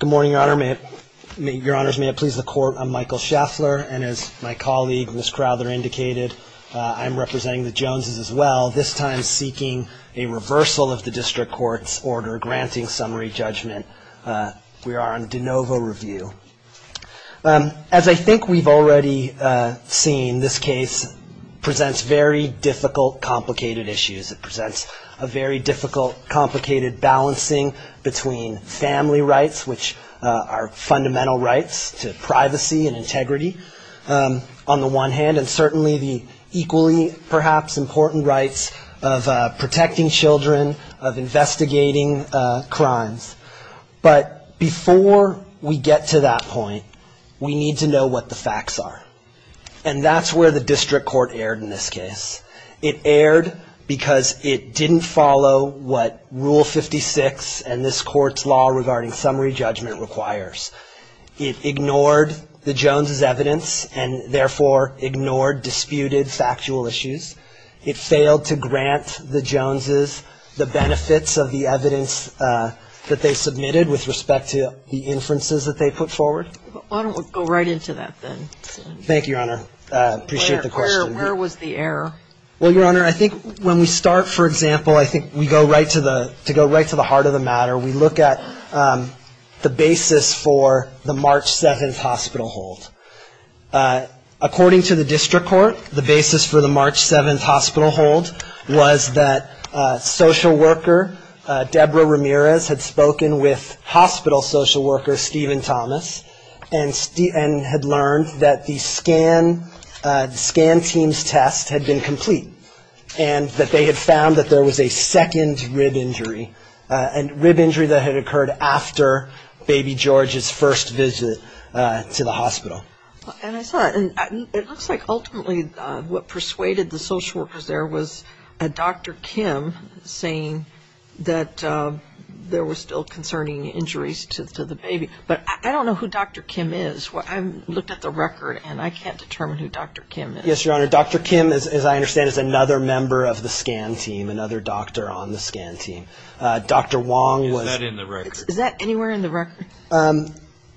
Good morning, Your Honor. Your Honors, may it please the Court, I'm Michael Scheffler, and as my colleague, Ms. Crowther, indicated, I'm representing the Joneses as well, this time seeking a reversal of the District Court's order granting summary judgment. We are on de novo review. As I think we've already seen, this case presents very difficult, complicated issues. It presents a very difficult, complicated balancing between family rights, which are fundamental rights to privacy and integrity, on the one hand, and certainly the equally, perhaps, important rights of protecting children, of investigating crimes. But before we get to that point, we need to know what the facts are. And that's where the District Court erred in this case. It erred because it didn't follow what Rule 56 and this Court's law regarding summary judgment requires. It ignored the Joneses' evidence and, therefore, ignored disputed factual issues. It failed to grant the Joneses the benefits of the evidence that they submitted with respect to the inferences that they put forward. Why don't we go right into that then? Thank you, Your Honor. I appreciate the question. Where was the error? Well, Your Honor, I think when we start, for example, I think we go right to the heart of the matter. We look at the basis for the March 7th hospital hold. According to the District Court, the basis for the March 7th hospital hold was that social worker Debra Ramirez had spoken with hospital social worker Stephen Thomas and had learned that the scan team's test had been completed. And that they had found that there was a second rib injury, a rib injury that had occurred after baby George's first visit to the hospital. And I saw it. And it looks like ultimately what persuaded the social workers there was Dr. Kim saying that there were still concerning injuries to the baby. But I don't know who Dr. Kim is. I looked at the record and I can't determine who Dr. Kim is. Yes, Your Honor. Dr. Kim, as I understand, is another member of the scan team, another doctor on the scan team. Dr. Wong was... Is that in the record? Is that anywhere in the record?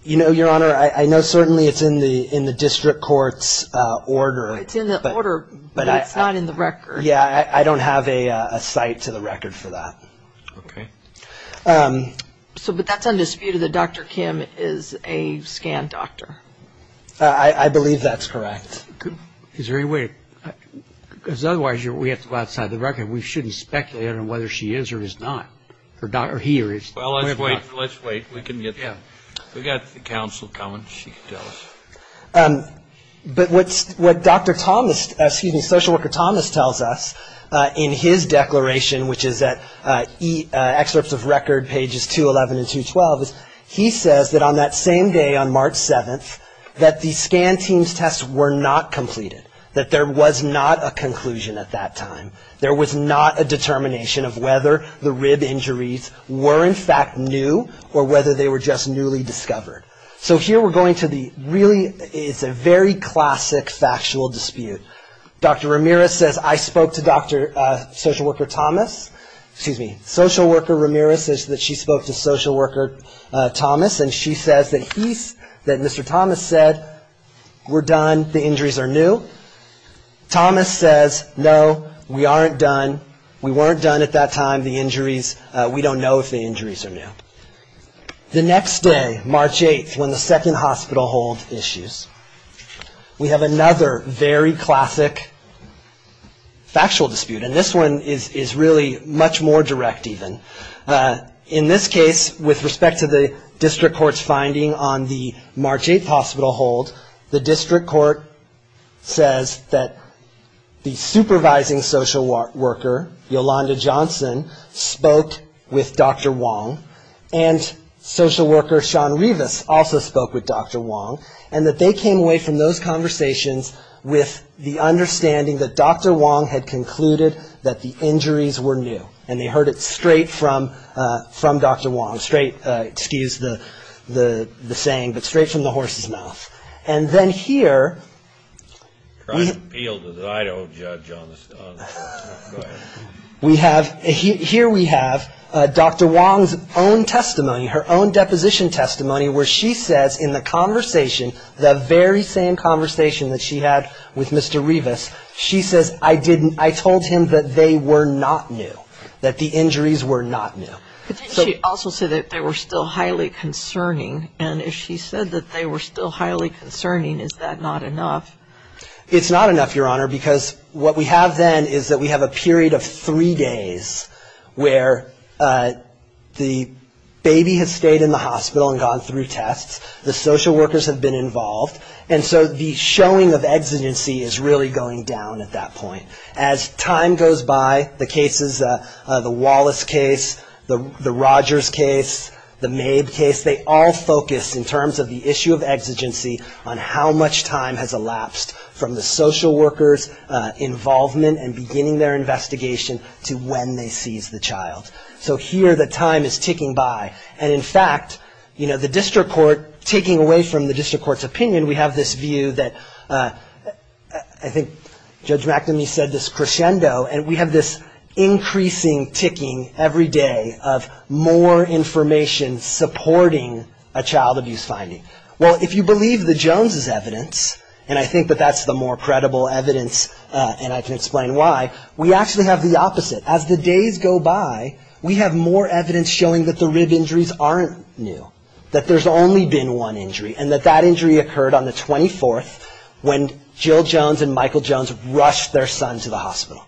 You know, Your Honor, I know certainly it's in the District Court's order. It's in the order, but it's not in the record. Yeah, I don't have a cite to the record for that. Okay. But that's undisputed that Dr. Kim is a scan doctor. I believe that's correct. Is there any way? Because otherwise we have to go outside the record. We shouldn't speculate on whether she is or is not, or he is or is not. Well, let's wait. Let's wait. We can get... Yeah. We've got the counsel coming. She can tell us. But what Dr. Thomas, excuse me, Social Worker Thomas tells us in his declaration, which is at excerpts of record pages 211 and 212, is he says that on that same day, on March 7th, that the scan team's tests were not completed. That there was not a conclusion at that time. There was not a determination of whether the rib injuries were in fact new or whether they were just newly discovered. So here we're going to the really, it's a very classic factual dispute. Dr. Ramirez says, I spoke to Dr. Social Worker Thomas. Excuse me, Social Worker Ramirez says that she spoke to Social Worker Thomas and she says that he, that Mr. Thomas said, we're done, the injuries are new. Thomas says, no, we aren't done, we weren't done at that time, the injuries, we don't know if the injuries are new. The next day, March 8th, when the second hospital holds issues, we have another very classic factual dispute. And this one is really much more direct even. In this case, with respect to the district court's finding on the March 8th hospital hold, the district court says that the supervising social worker, Yolanda Johnson, spoke with Dr. Wong, and social worker Shawn Rivas also spoke with Dr. Wong, and that they came away from those conversations with the understanding that Dr. Wong had concluded that the injuries were new. And they heard it straight from Dr. Wong, straight, excuse the saying, but straight from the horse's mouth. And then here, we have, here we have Dr. Wong's own testimony, her own deposition testimony, where she says in the conversation, the very same conversation that she had with Mr. Rivas, she says, I didn't, I told him that they were not new, that the injuries were not new. But didn't she also say that they were still highly concerning? And if she said that they were still highly concerning, is that not enough? It's not enough, Your Honor, because what we have then is that we have a period of three days where the baby has stayed in the hospital and gone through tests, the social workers have been involved, and so the showing of exigency is really going down at that point. As time goes by, the cases, the Wallace case, the Rogers case, the Mabe case, they all focus in terms of the issue of exigency on how much time has elapsed from the social workers' involvement and beginning their investigation to when they seize the child. So here, the time is ticking by. And in fact, you know, the district court, taking away from the district court's opinion, we have this view that I think Judge McNamee said this crescendo, and we have this increasing ticking every day of more information supporting a child abuse finding. Well, if you believe the Jones's evidence, and I think that that's the more credible evidence, and I can explain why, we actually have the opposite. As the days go by, we have more evidence showing that the rib injuries aren't new, that there's only been one injury, and that that injury occurred on the 24th when Jill Jones and Michael Jones rushed their son to the hospital.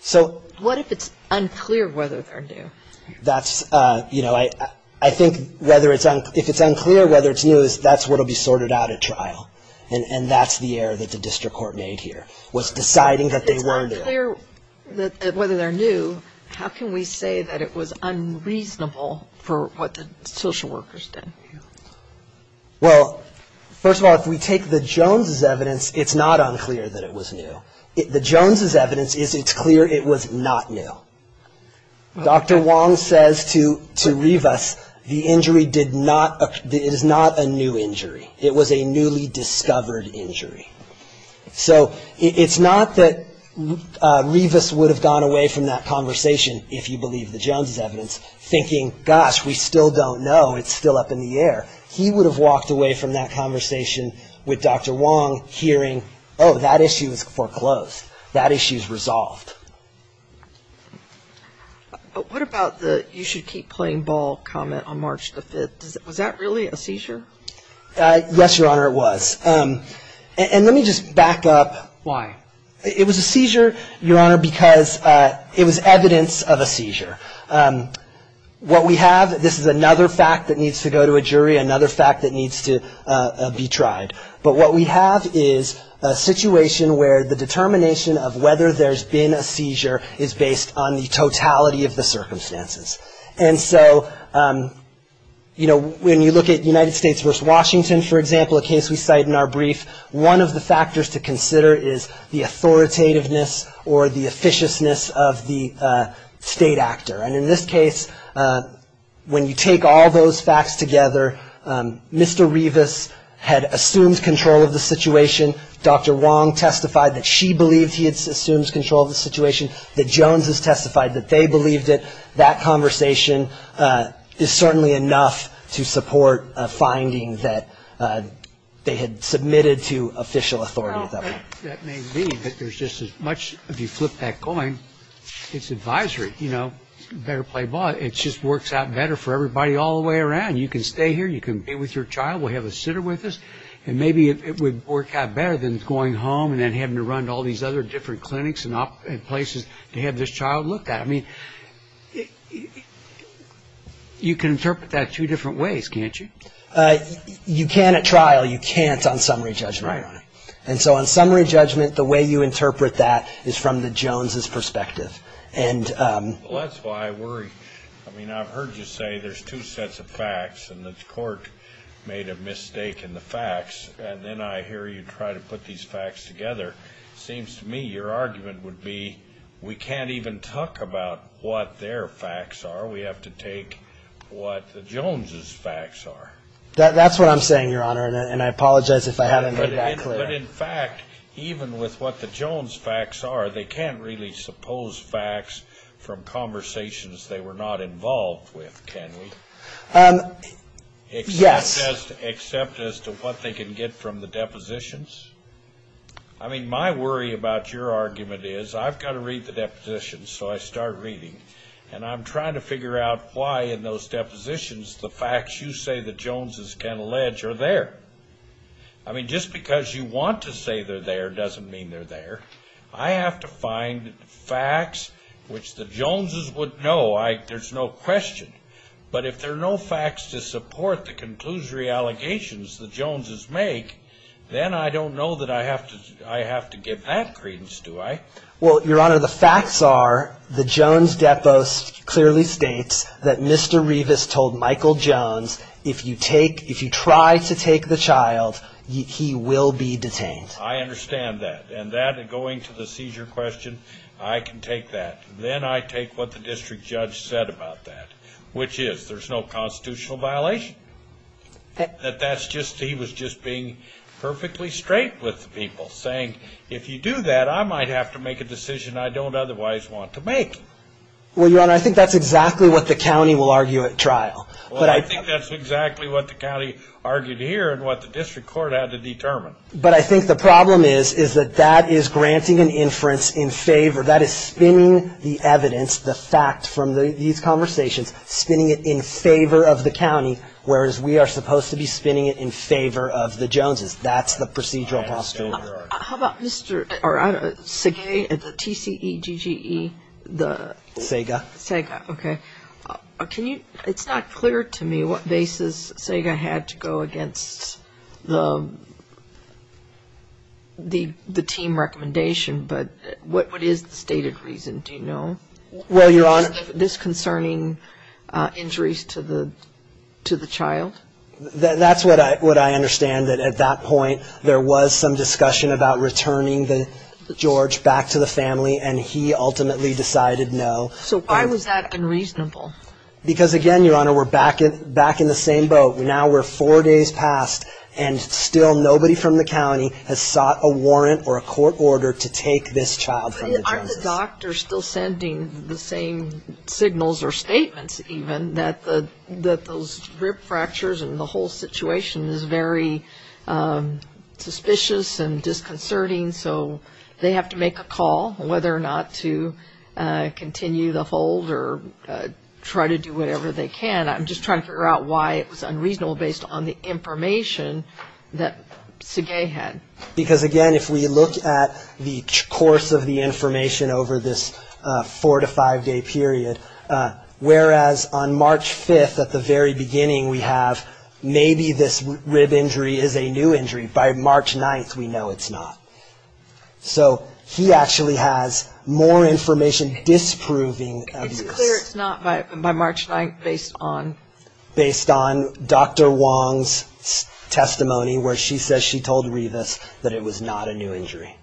So what if it's unclear whether they're new? That's, you know, I think if it's unclear whether it's new, that's what will be sorted out at trial, and that's the error that the district court made here, was deciding that they were new. If it's unclear whether they're new, how can we say that it was unreasonable for what the social workers did? Well, first of all, if we take the Jones's evidence, it's not unclear that it was new. The Jones's evidence is it's clear it was not new. Dr. Wong says to Rivas, the injury did not, it is not a new injury. It was a newly discovered injury. So it's not that Rivas would have gone away from that conversation, if you believe the Jones's evidence, thinking, gosh, we still don't know, it's still up in the air. He would have walked away from that conversation with Dr. Wong, hearing, oh, that issue is foreclosed, that issue is resolved. But what about the you should keep playing ball comment on March the 5th? Was that really a seizure? Yes, Your Honor, it was. And let me just back up. Why? It was a seizure, Your Honor, because it was evidence of a seizure. What we have, this is another fact that needs to go to a jury, another fact that needs to be tried. But what we have is a situation where the determination of whether there's been a seizure is based on the totality of the circumstances. And so, you know, when you look at United States v. Washington, for example, a case we cite in our brief, one of the factors to consider is the authoritativeness or the officiousness of the state actor. And in this case, when you take all those facts together, Mr. Revis had assumed control of the situation. Dr. Wong testified that she believed he had assumed control of the situation, that Jones has testified that they believed it. That conversation is certainly enough to support a finding that they had submitted to official authority. Well, that may be, but there's just as much, if you flip that coin, it's advisory, you know, better play ball. It just works out better for everybody all the way around. You can stay here. You can be with your child. We'll have a sitter with us. And maybe it would work out better than going home and then having to run to all these other different clinics and places to have this child looked at. I mean, you can interpret that two different ways, can't you? You can at trial. You can't on summary judgment. Right. And so on summary judgment, the way you interpret that is from the Jones's perspective. Well, that's why I worry. I mean, I've heard you say there's two sets of facts, and the court made a mistake in the facts, and then I hear you try to put these facts together. It seems to me your argument would be we can't even talk about what their facts are. We have to take what the Jones's facts are. That's what I'm saying, Your Honor, and I apologize if I haven't made that clear. But, in fact, even with what the Jones's facts are, they can't really suppose facts from conversations they were not involved with, can we? Yes. Except as to what they can get from the depositions. I mean, my worry about your argument is I've got to read the depositions, so I start reading, and I'm trying to figure out why in those depositions the facts you say the Jones's can allege are there. I mean, just because you want to say they're there doesn't mean they're there. I have to find facts which the Jones's would know. There's no question. But if there are no facts to support the conclusory allegations the Jones's make, then I don't know that I have to give that credence, do I? Well, Your Honor, the facts are the Jones's deposit clearly states that Mr. Revis told Michael Jones if you try to take the child, he will be detained. I understand that, and going to the seizure question, I can take that. Then I take what the district judge said about that, which is there's no constitutional violation. He was just being perfectly straight with the people, saying, if you do that, I might have to make a decision I don't otherwise want to make. Well, Your Honor, I think that's exactly what the county will argue at trial. Well, I think that's exactly what the county argued here and what the district court had to determine. But I think the problem is that that is granting an inference in favor. That is spinning the evidence, the fact from these conversations, spinning it in favor of the county, whereas we are supposed to be spinning it in favor of the Jones's. That's the procedural posture. How about Mr. Sege, the TCEGGE? Sege. Sege, okay. It's not clear to me what basis Sege had to go against the team recommendation, but what is the stated reason? Do you know? Well, Your Honor. This concerning injuries to the child? That's what I understand, that at that point there was some discussion about returning George back to the family, and he ultimately decided no. So why was that unreasonable? Because, again, Your Honor, we're back in the same boat. Now we're four days past, and still nobody from the county has sought a warrant or a court order to take this child from the Jones's. And the doctor is still sending the same signals or statements, even, that those rib fractures and the whole situation is very suspicious and disconcerting, so they have to make a call whether or not to continue the hold or try to do whatever they can. I'm just trying to figure out why it was unreasonable based on the information that Sege had. Because, again, if we look at the course of the information over this four- to five-day period, whereas on March 5th at the very beginning we have maybe this rib injury is a new injury, by March 9th we know it's not. So he actually has more information disproving of this. It's clear it's not by March 9th based on? Dr. Wong's testimony where she says she told Revis that it was not a new injury.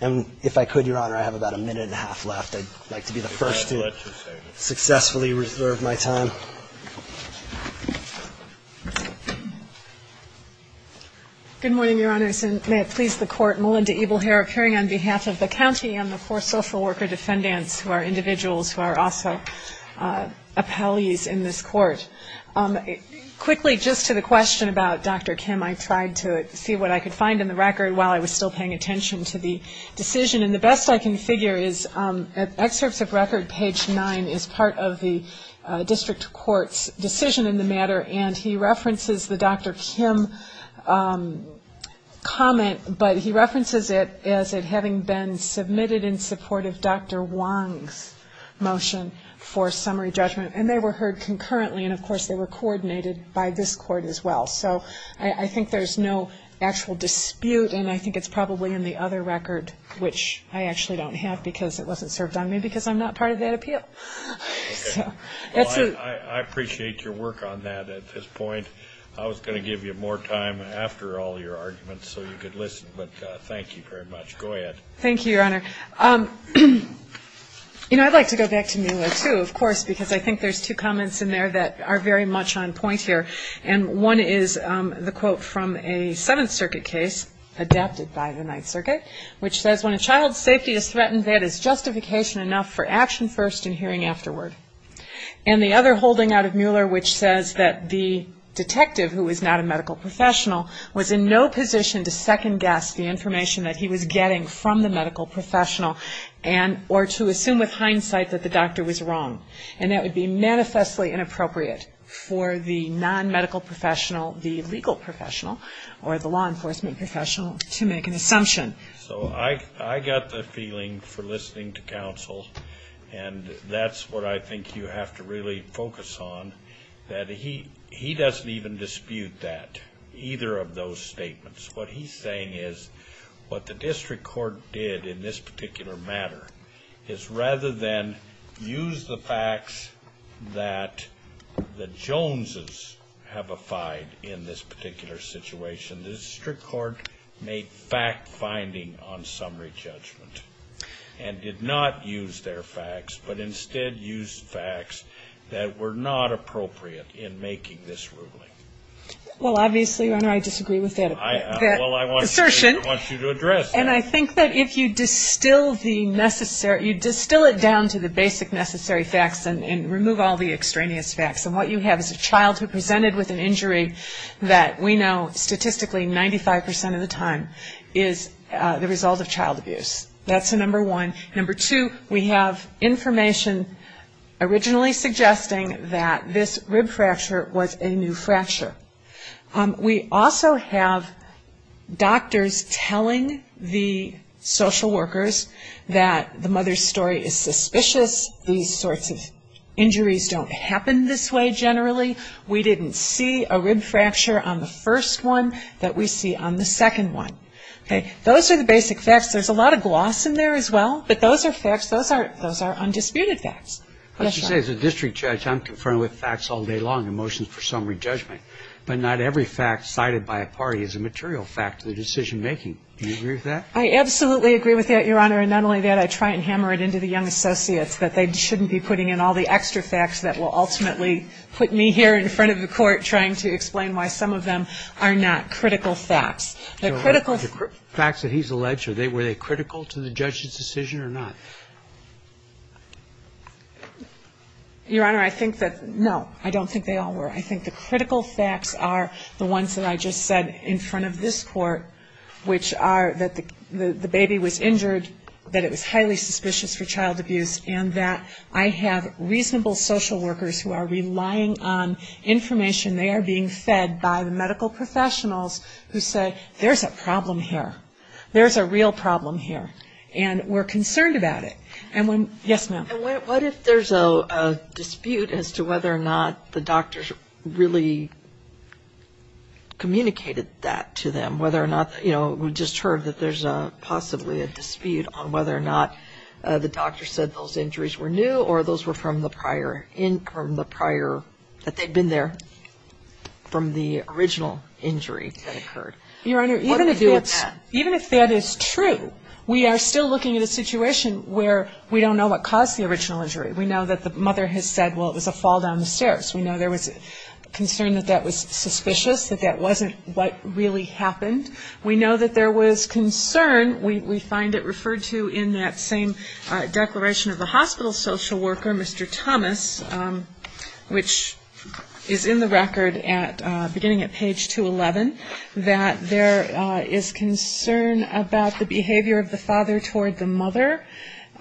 And if I could, Your Honor, I have about a minute and a half left. I'd like to be the first to successfully reserve my time. Good morning, Your Honors, and may it please the Court, Melinda Ebelhere appearing on behalf of the county and the four social worker defendants who are individuals who are also appellees in this court. Quickly, just to the question about Dr. Kim, I tried to see what I could find in the record while I was still paying attention to the decision. And the best I can figure is at excerpts of record, page 9 is part of the district court's decision in the matter, and he references the Dr. Kim comment, but he references it as it having been submitted in support of Dr. Wong's motion for summary judgment. And they were heard concurrently, and, of course, they were coordinated by this court as well. So I think there's no actual dispute, and I think it's probably in the other record, which I actually don't have because it wasn't served on me because I'm not part of that appeal. I appreciate your work on that at this point. I was going to give you more time after all your arguments so you could listen, but thank you very much. Go ahead. Thank you, Your Honor. You know, I'd like to go back to Mila, too, of course, because I think there's two comments in there that are very much on point here, and one is the quote from a Seventh Circuit case adapted by the Ninth Circuit, which says, When a child's safety is threatened, that is justification enough for action first and hearing afterward. And the other holding out of Mueller, which says that the detective, who is not a medical professional, was in no position to second-guess the information that he was getting from the medical professional or to assume with hindsight that the doctor was wrong. And that would be manifestly inappropriate for the non-medical professional, the legal professional, or the law enforcement professional, to make an assumption. So I got the feeling for listening to counsel, and that's what I think you have to really focus on, that he doesn't even dispute that, either of those statements. What he's saying is what the district court did in this particular matter is rather than use the facts that the Joneses have affied in this particular situation, the district court made fact-finding on summary judgment and did not use their facts, but instead used facts that were not appropriate in making this ruling. Well, obviously, Your Honor, I disagree with that assertion. Well, I want you to address that. And I think that if you distill the necessary, you distill it down to the basic necessary facts and remove all the extraneous facts, and what you have is a child who presented with an injury that we know statistically 95% of the time is the result of child abuse. That's the number one. Number two, we have information originally suggesting that this rib fracture was a new fracture. We also have doctors telling the social workers that the mother's story is suspicious. These sorts of injuries don't happen this way generally. We didn't see a rib fracture on the first one that we see on the second one. Those are the basic facts. There's a lot of gloss in there as well, but those are facts. Those are undisputed facts. As you say, as a district judge, I'm confronted with facts all day long in motions for summary judgment. But not every fact cited by a party is a material fact to the decision-making. Do you agree with that? I absolutely agree with that, Your Honor. And not only that, I try and hammer it into the young associates that they shouldn't be putting in all the extra facts that will ultimately put me here in front of the court trying to explain why some of them are not critical facts. The critical facts that he's alleged, were they critical to the judge's decision or not? Your Honor, I think that, no, I don't think they all were. I think the critical facts are the ones that I just said in front of this court, which are that the baby was injured, that it was highly suspicious for child abuse, and that I have reasonable social workers who are relying on information. They are being fed by the medical professionals who say, there's a problem here, there's a real problem here, and we're concerned about it. Yes, ma'am. And what if there's a dispute as to whether or not the doctors really communicated that to them, whether or not, you know, we just heard that there's possibly a dispute on whether or not the doctors said those injuries were new or those were from the prior, that they'd been there from the original injury that occurred? Your Honor, even if that is true, we are still looking at a situation where we don't know what caused the original injury. We know that the mother has said, well, it was a fall down the stairs. We know there was concern that that was suspicious, that that wasn't what really happened. We know that there was concern, we find it referred to in that same declaration of the hospital social worker, Mr. Thomas, which is in the record beginning at page 211, that there is concern about the behavior of the father toward the mother,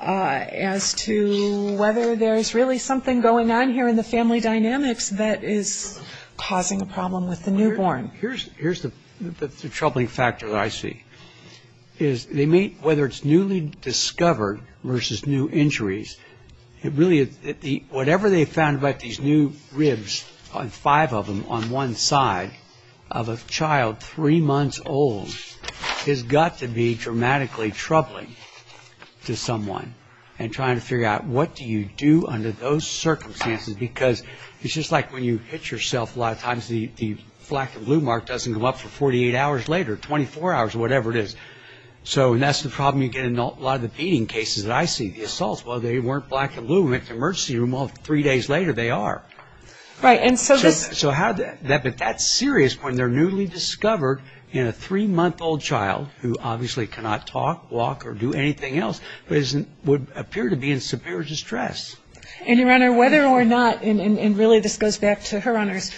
as to whether there's really something going on here in the family dynamics that is causing a problem with the newborn. Here's the troubling factor that I see, is they meet, whether it's newly discovered versus new injuries, whatever they found about these new ribs, five of them on one side of a child three months old, has got to be dramatically troubling to someone. And trying to figure out what do you do under those circumstances, because it's just like when you hit yourself a lot of times, the black and blue mark doesn't come up for 48 hours later, 24 hours, whatever it is. So that's the problem you get in a lot of the beating cases that I see. The assaults, well, they weren't black and blue in the emergency room, well, three days later they are. But that's serious when they're newly discovered in a three-month-old child, who obviously cannot talk, walk, or do anything else, but would appear to be in severe distress. And, Your Honor, whether or not, and really this goes back to Her Honor's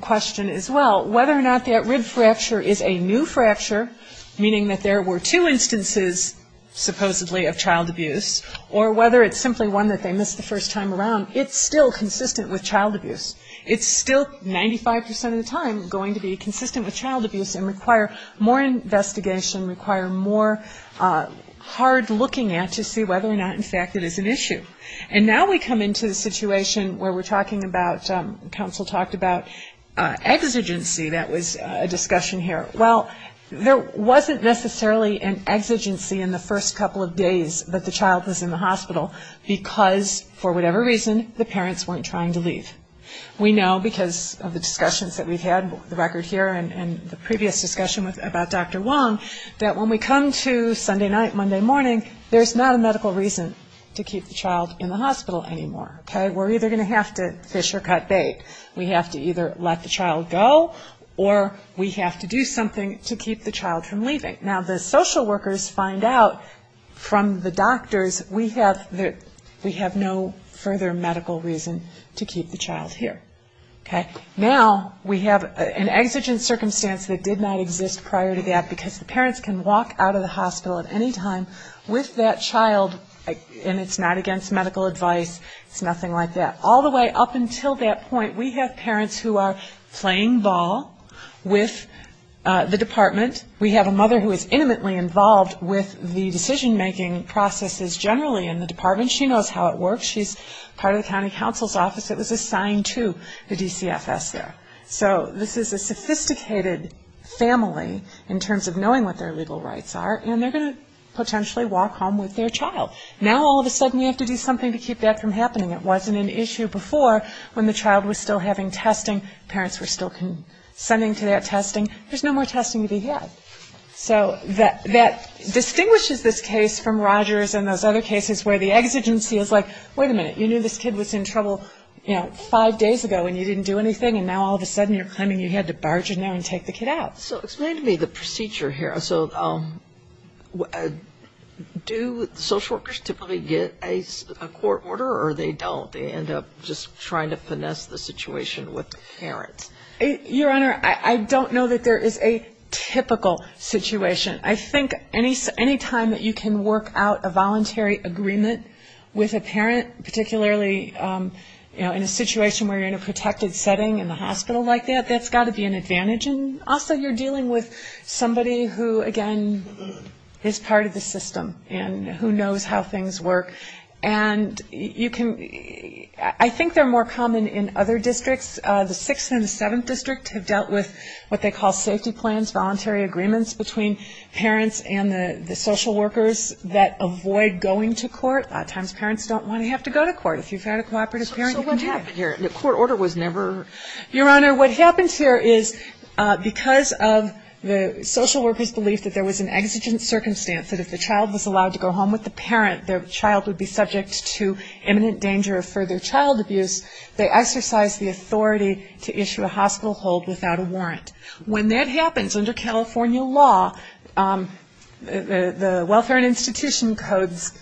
question as well, whether or not that rib fracture is a new fracture, meaning that there were two instances supposedly of child abuse, or whether it's simply one that they missed the first time around, it's still consistent with child abuse. It's still 95% of the time going to be consistent with child abuse and require more investigation, require more hard looking at to see whether or not, in fact, it is an issue. And now we come into the situation where we're talking about, counsel talked about exigency that was a discussion here. Well, there wasn't necessarily an exigency in the first couple of days that the child was in the hospital, because, for whatever reason, the parents weren't trying to leave. We know because of the discussions that we've had, the record here and the previous discussion about Dr. Wong, that when we come to Sunday night, Monday morning, there's not a medical reason to keep the child in the hospital anymore. We're either going to have to fish or cut bait. We have to either let the child go, or we have to do something to keep the child from leaving. Now, the social workers find out from the doctors, we have no further medical reason to keep the child here. Now we have an exigent circumstance that did not exist prior to that, because the parents can walk out of the hospital at any time with that child, and it's not against medical advice, it's nothing like that. All the way up until that point, we have parents who are playing ball with the department. We have a mother who is intimately involved with the decision-making processes generally in the department. She knows how it works. She's part of the county counsel's office that was assigned to the DCFS there. So this is a sophisticated family in terms of knowing what their legal rights are, and they're going to potentially walk home with their child. Now all of a sudden we have to do something to keep that from happening. It wasn't an issue before when the child was still having testing, parents were still sending to that testing. There's no more testing to be had. So that distinguishes this case from Rogers and those other cases where the exigency is like, wait a minute, you knew this kid was in trouble five days ago and you didn't do anything, and now all of a sudden you're claiming you had to barge in there and take the kid out. So explain to me the procedure here. So do social workers typically get a court order or they don't? They end up just trying to finesse the situation with the parents? Your Honor, I don't know that there is a typical situation. I think any time that you can work out a voluntary agreement with a parent, particularly in a situation where you're in a protected setting in the hospital like that, that's got to be an advantage. And also you're dealing with somebody who, again, is part of the system and who knows how things work. And I think they're more common in other districts. The 6th and the 7th District have dealt with what they call safety plans, voluntary agreements between parents and the social workers that avoid going to court. A lot of times parents don't want to have to go to court. If you've had a cooperative parent, you can have it. So what happened here? The court order was never? Your Honor, what happened here is because of the social workers' belief that there was an exigent circumstance, that if the child was allowed to go home with the parent, the child would be subject to imminent danger of further child abuse, they exercised the authority to issue a hospital hold without a warrant. When that happens, under California law, the welfare and institution codes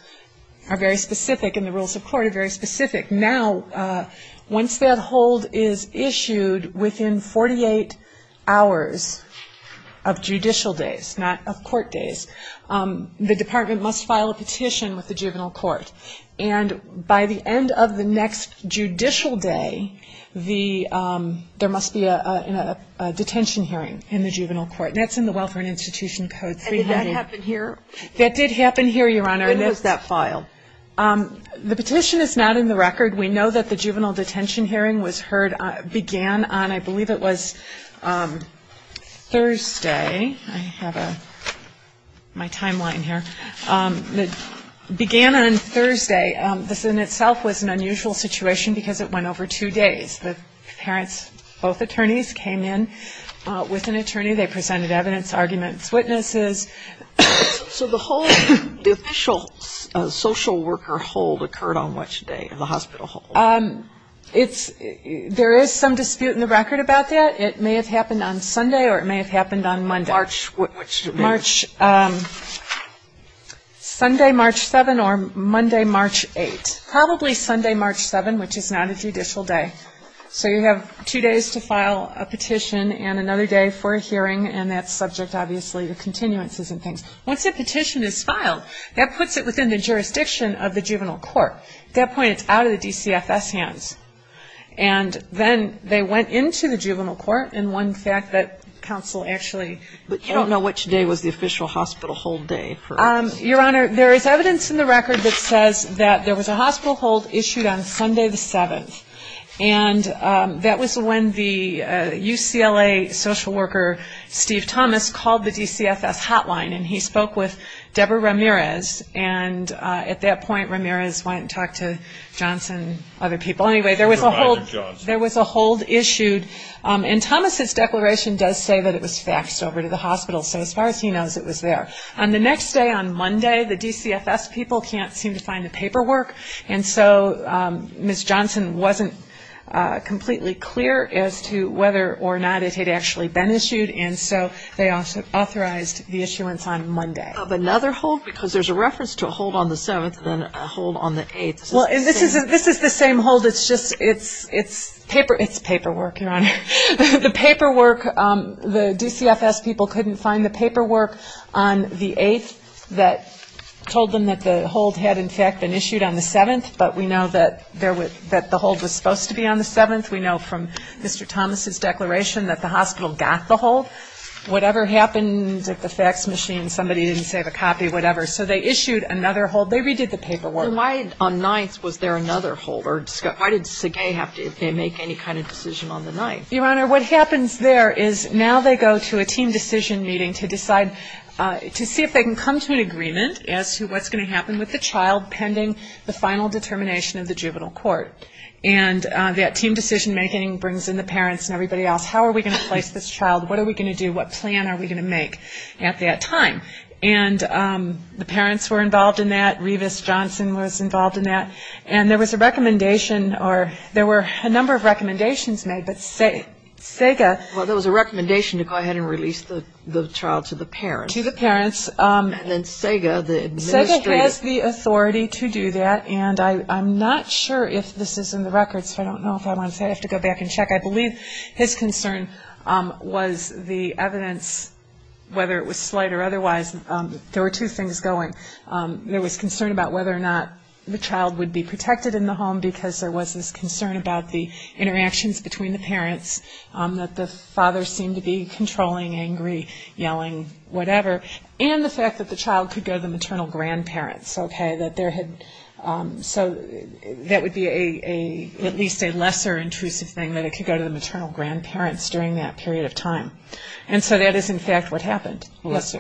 are very specific and the rules of court are very specific. Now, once that hold is issued within 48 hours of judicial days, not of court days, the department must file a petition with the juvenile court. And by the end of the next judicial day, there must be a detention hearing in the juvenile court, and that's in the welfare and institution codes. Did that happen here? That did happen here, Your Honor. When was that filed? The petition is not in the record. We know that the juvenile detention hearing was heard, began on, I believe it was Thursday. I have my timeline here. It began on Thursday. This in itself was an unusual situation because it went over two days. The parents, both attorneys, came in with an attorney. They presented evidence, arguments, witnesses. So the official social worker hold occurred on which day, the hospital hold? There is some dispute in the record about that. It may have happened on Sunday or it may have happened on Monday. March, which day? Sunday, March 7, or Monday, March 8. Probably Sunday, March 7, which is not a judicial day. So you have two days to file a petition and another day for a hearing, and that's subject, obviously, to continuances and things. Once a petition is filed, that puts it within the jurisdiction of the juvenile court. At that point, it's out of the DCFS hands. And then they went into the juvenile court, and one fact that counsel actually ---- But you don't know which day was the official hospital hold day. Your Honor, there is evidence in the record that says that there was a hospital hold issued on Sunday the 7th, and that was when the UCLA social worker, Steve Thomas, called the DCFS hotline, and he spoke with Deborah Ramirez. And at that point, Ramirez went and talked to Johnson and other people. Anyway, there was a hold issued. And Thomas's declaration does say that it was faxed over to the hospital, so as far as he knows, it was there. On the next day, on Monday, the DCFS people can't seem to find the paperwork, and so Ms. Johnson wasn't completely clear as to whether or not it had actually been issued, and so they authorized the issuance on Monday. Of another hold, because there's a reference to a hold on the 7th and a hold on the 8th. Well, this is the same hold. It's just it's paperwork, Your Honor. The paperwork, the DCFS people couldn't find the paperwork on the 8th that told them that the hold had, in fact, been issued on the 7th, but we know that the hold was supposed to be on the 7th. We know from Mr. Thomas's declaration that the hospital got the hold. Whatever happened at the fax machine, somebody didn't save a copy, whatever. So they issued another hold. They redid the paperwork. So why on 9th was there another hold? Why did Segei have to make any kind of decision on the 9th? Your Honor, what happens there is now they go to a team decision meeting to decide to see if they can come to an agreement as to what's going to happen with the child pending the final determination of the juvenile court. And that team decision-making brings in the parents and everybody else. How are we going to place this child? What are we going to do? What plan are we going to make at that time? And the parents were involved in that. Revis Johnson was involved in that. And there was a recommendation or there were a number of recommendations made, but Segei Well, there was a recommendation to go ahead and release the child to the parents. To the parents. And then Segei, the administrator. Segei has the authority to do that, and I'm not sure if this is in the records. I don't know if I want to say it. I have to go back and check. I believe his concern was the evidence, whether it was slight or otherwise, there were two things going. There was concern about whether or not the child would be protected in the home because there was this concern about the interactions between the parents, that the father seemed to be controlling, angry, yelling, whatever, and the fact that the child could go to the maternal grandparents. So that would be at least a lesser intrusive thing, that it could go to the maternal grandparents during that period of time. And so that is, in fact, what happened. Let's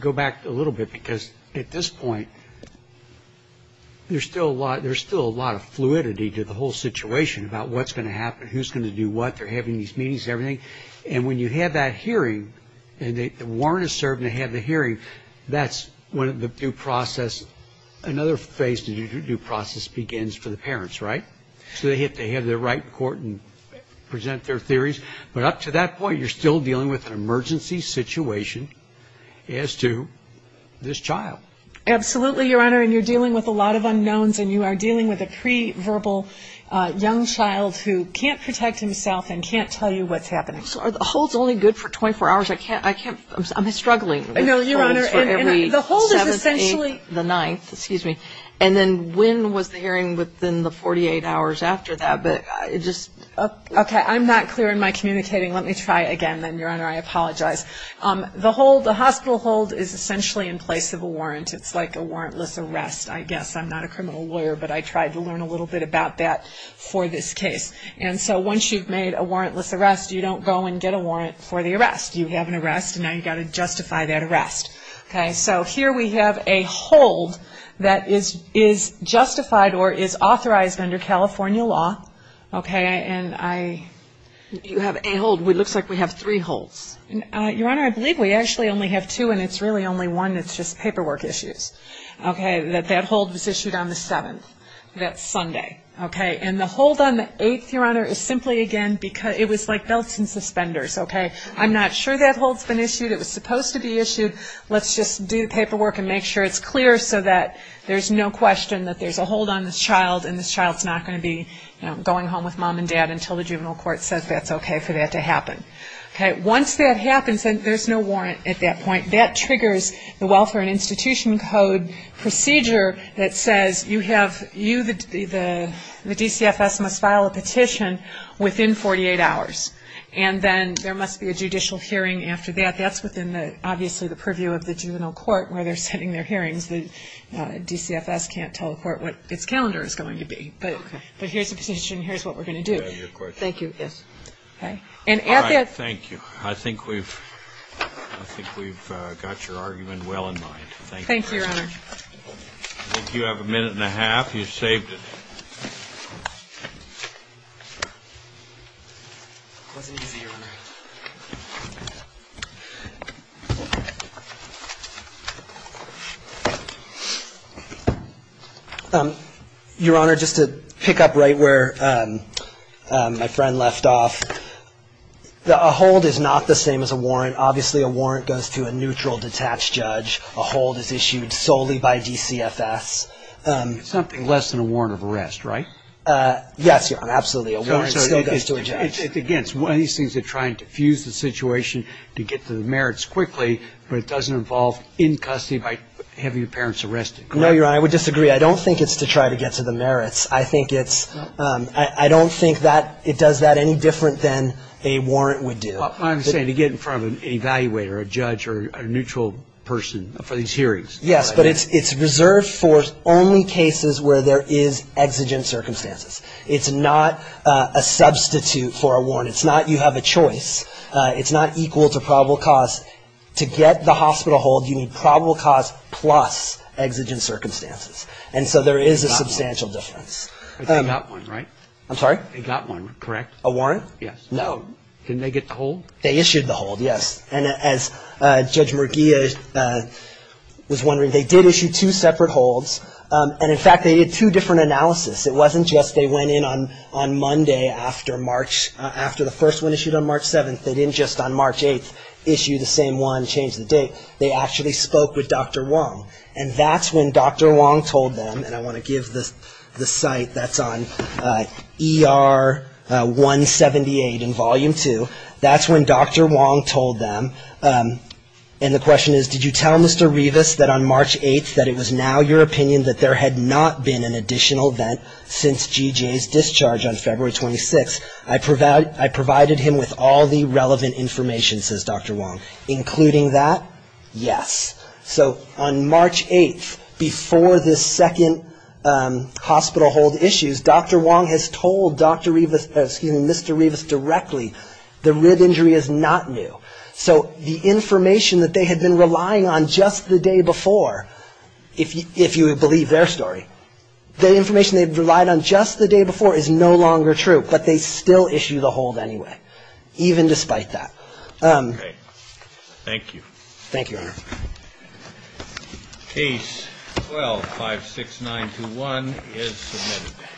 go back a little bit because at this point there's still a lot of fluidity to the whole situation about what's going to happen, who's going to do what. They're having these meetings and everything, and when you have that hearing and the warrant is served and they have the hearing, that's when the due process, another phase of the due process begins for the parents, right? So they have to have their right in court and present their theories. But up to that point, you're still dealing with an emergency situation as to this child. Absolutely, Your Honor, and you're dealing with a lot of unknowns and you are dealing with a pre-verbal young child who can't protect himself and can't tell you what's happening. So are the holds only good for 24 hours? I can't, I can't, I'm struggling. No, Your Honor, and the hold is essentially. The ninth, excuse me. And then when was the hearing within the 48 hours after that? Okay, I'm not clear in my communicating. Let me try again then, Your Honor, I apologize. The hospital hold is essentially in place of a warrant. It's like a warrantless arrest, I guess. I'm not a criminal lawyer, but I tried to learn a little bit about that for this case. And so once you've made a warrantless arrest, you don't go and get a warrant for the arrest. You have an arrest and now you've got to justify that arrest. Okay, so here we have a hold that is justified or is authorized under California law. Okay, and I. You have a hold. It looks like we have three holds. Your Honor, I believe we actually only have two and it's really only one that's just paperwork issues. Okay, that that hold was issued on the 7th. That's Sunday. Okay, and the hold on the 8th, Your Honor, is simply, again, it was like belts and suspenders. Okay, I'm not sure that hold's been issued. It was supposed to be issued. Let's just do the paperwork and make sure it's clear so that there's no question that there's a hold on this child and this child's not going to be going home with Mom and Dad until the juvenile court says that's okay for that to happen. Okay, once that happens, then there's no warrant at that point. That triggers the Welfare and Institution Code procedure that says you have, the DCFS must file a petition within 48 hours, and then there must be a judicial hearing after that. That's within, obviously, the purview of the juvenile court where they're sending their hearings. The DCFS can't tell the court what its calendar is going to be. But here's the petition. Here's what we're going to do. Thank you. Yes. Okay. All right, thank you. I think we've got your argument well in mind. Thank you. Thank you, Your Honor. I think you have a minute and a half. You saved it. It wasn't easy, Your Honor. Your Honor, just to pick up right where my friend left off, a hold is not the same as a warrant. Obviously, a warrant goes to a neutral, detached judge. A hold is issued solely by DCFS. It's something less than a warrant of arrest, right? Yes, Your Honor, absolutely, a warrant still goes to a judge. Again, it's one of these things they're trying to fuse the situation to get to the merits quickly, but it doesn't involve in custody by having your parents arrested. No, Your Honor, I would disagree. I don't think it's to try to get to the merits. I think it's – I don't think that it does that any different than a warrant would do. I'm saying to get in front of an evaluator, a judge, or a neutral person for these hearings. Yes, but it's reserved for only cases where there is exigent circumstances. It's not a substitute for a warrant. It's not you have a choice. It's not equal to probable cause. To get the hospital hold, you need probable cause plus exigent circumstances. And so there is a substantial difference. They got one, right? I'm sorry? They got one, correct? A warrant? Yes. No. Didn't they get the hold? They issued the hold, yes. And as Judge Murguia was wondering, they did issue two separate holds. And, in fact, they did two different analysis. It wasn't just they went in on Monday after the first one issued on March 7th. They didn't just, on March 8th, issue the same one, change the date. They actually spoke with Dr. Wong. And that's when Dr. Wong told them, and I want to give the site that's on ER 178 in Volume 2. That's when Dr. Wong told them, and the question is, did you tell Mr. Rivas that on March 8th that it was now your opinion that there had not been an additional event since G.J.'s discharge on February 26th? I provided him with all the relevant information, says Dr. Wong. Including that? Yes. So on March 8th, before this second hospital hold issues, Dr. Wong has told Mr. Rivas directly the rib injury is not new. So the information that they had been relying on just the day before, if you believe their story, the information they had relied on just the day before is no longer true. But they still issue the hold anyway, even despite that. Okay. Thank you. Thank you, Your Honor. Case 12-56921 is submitted.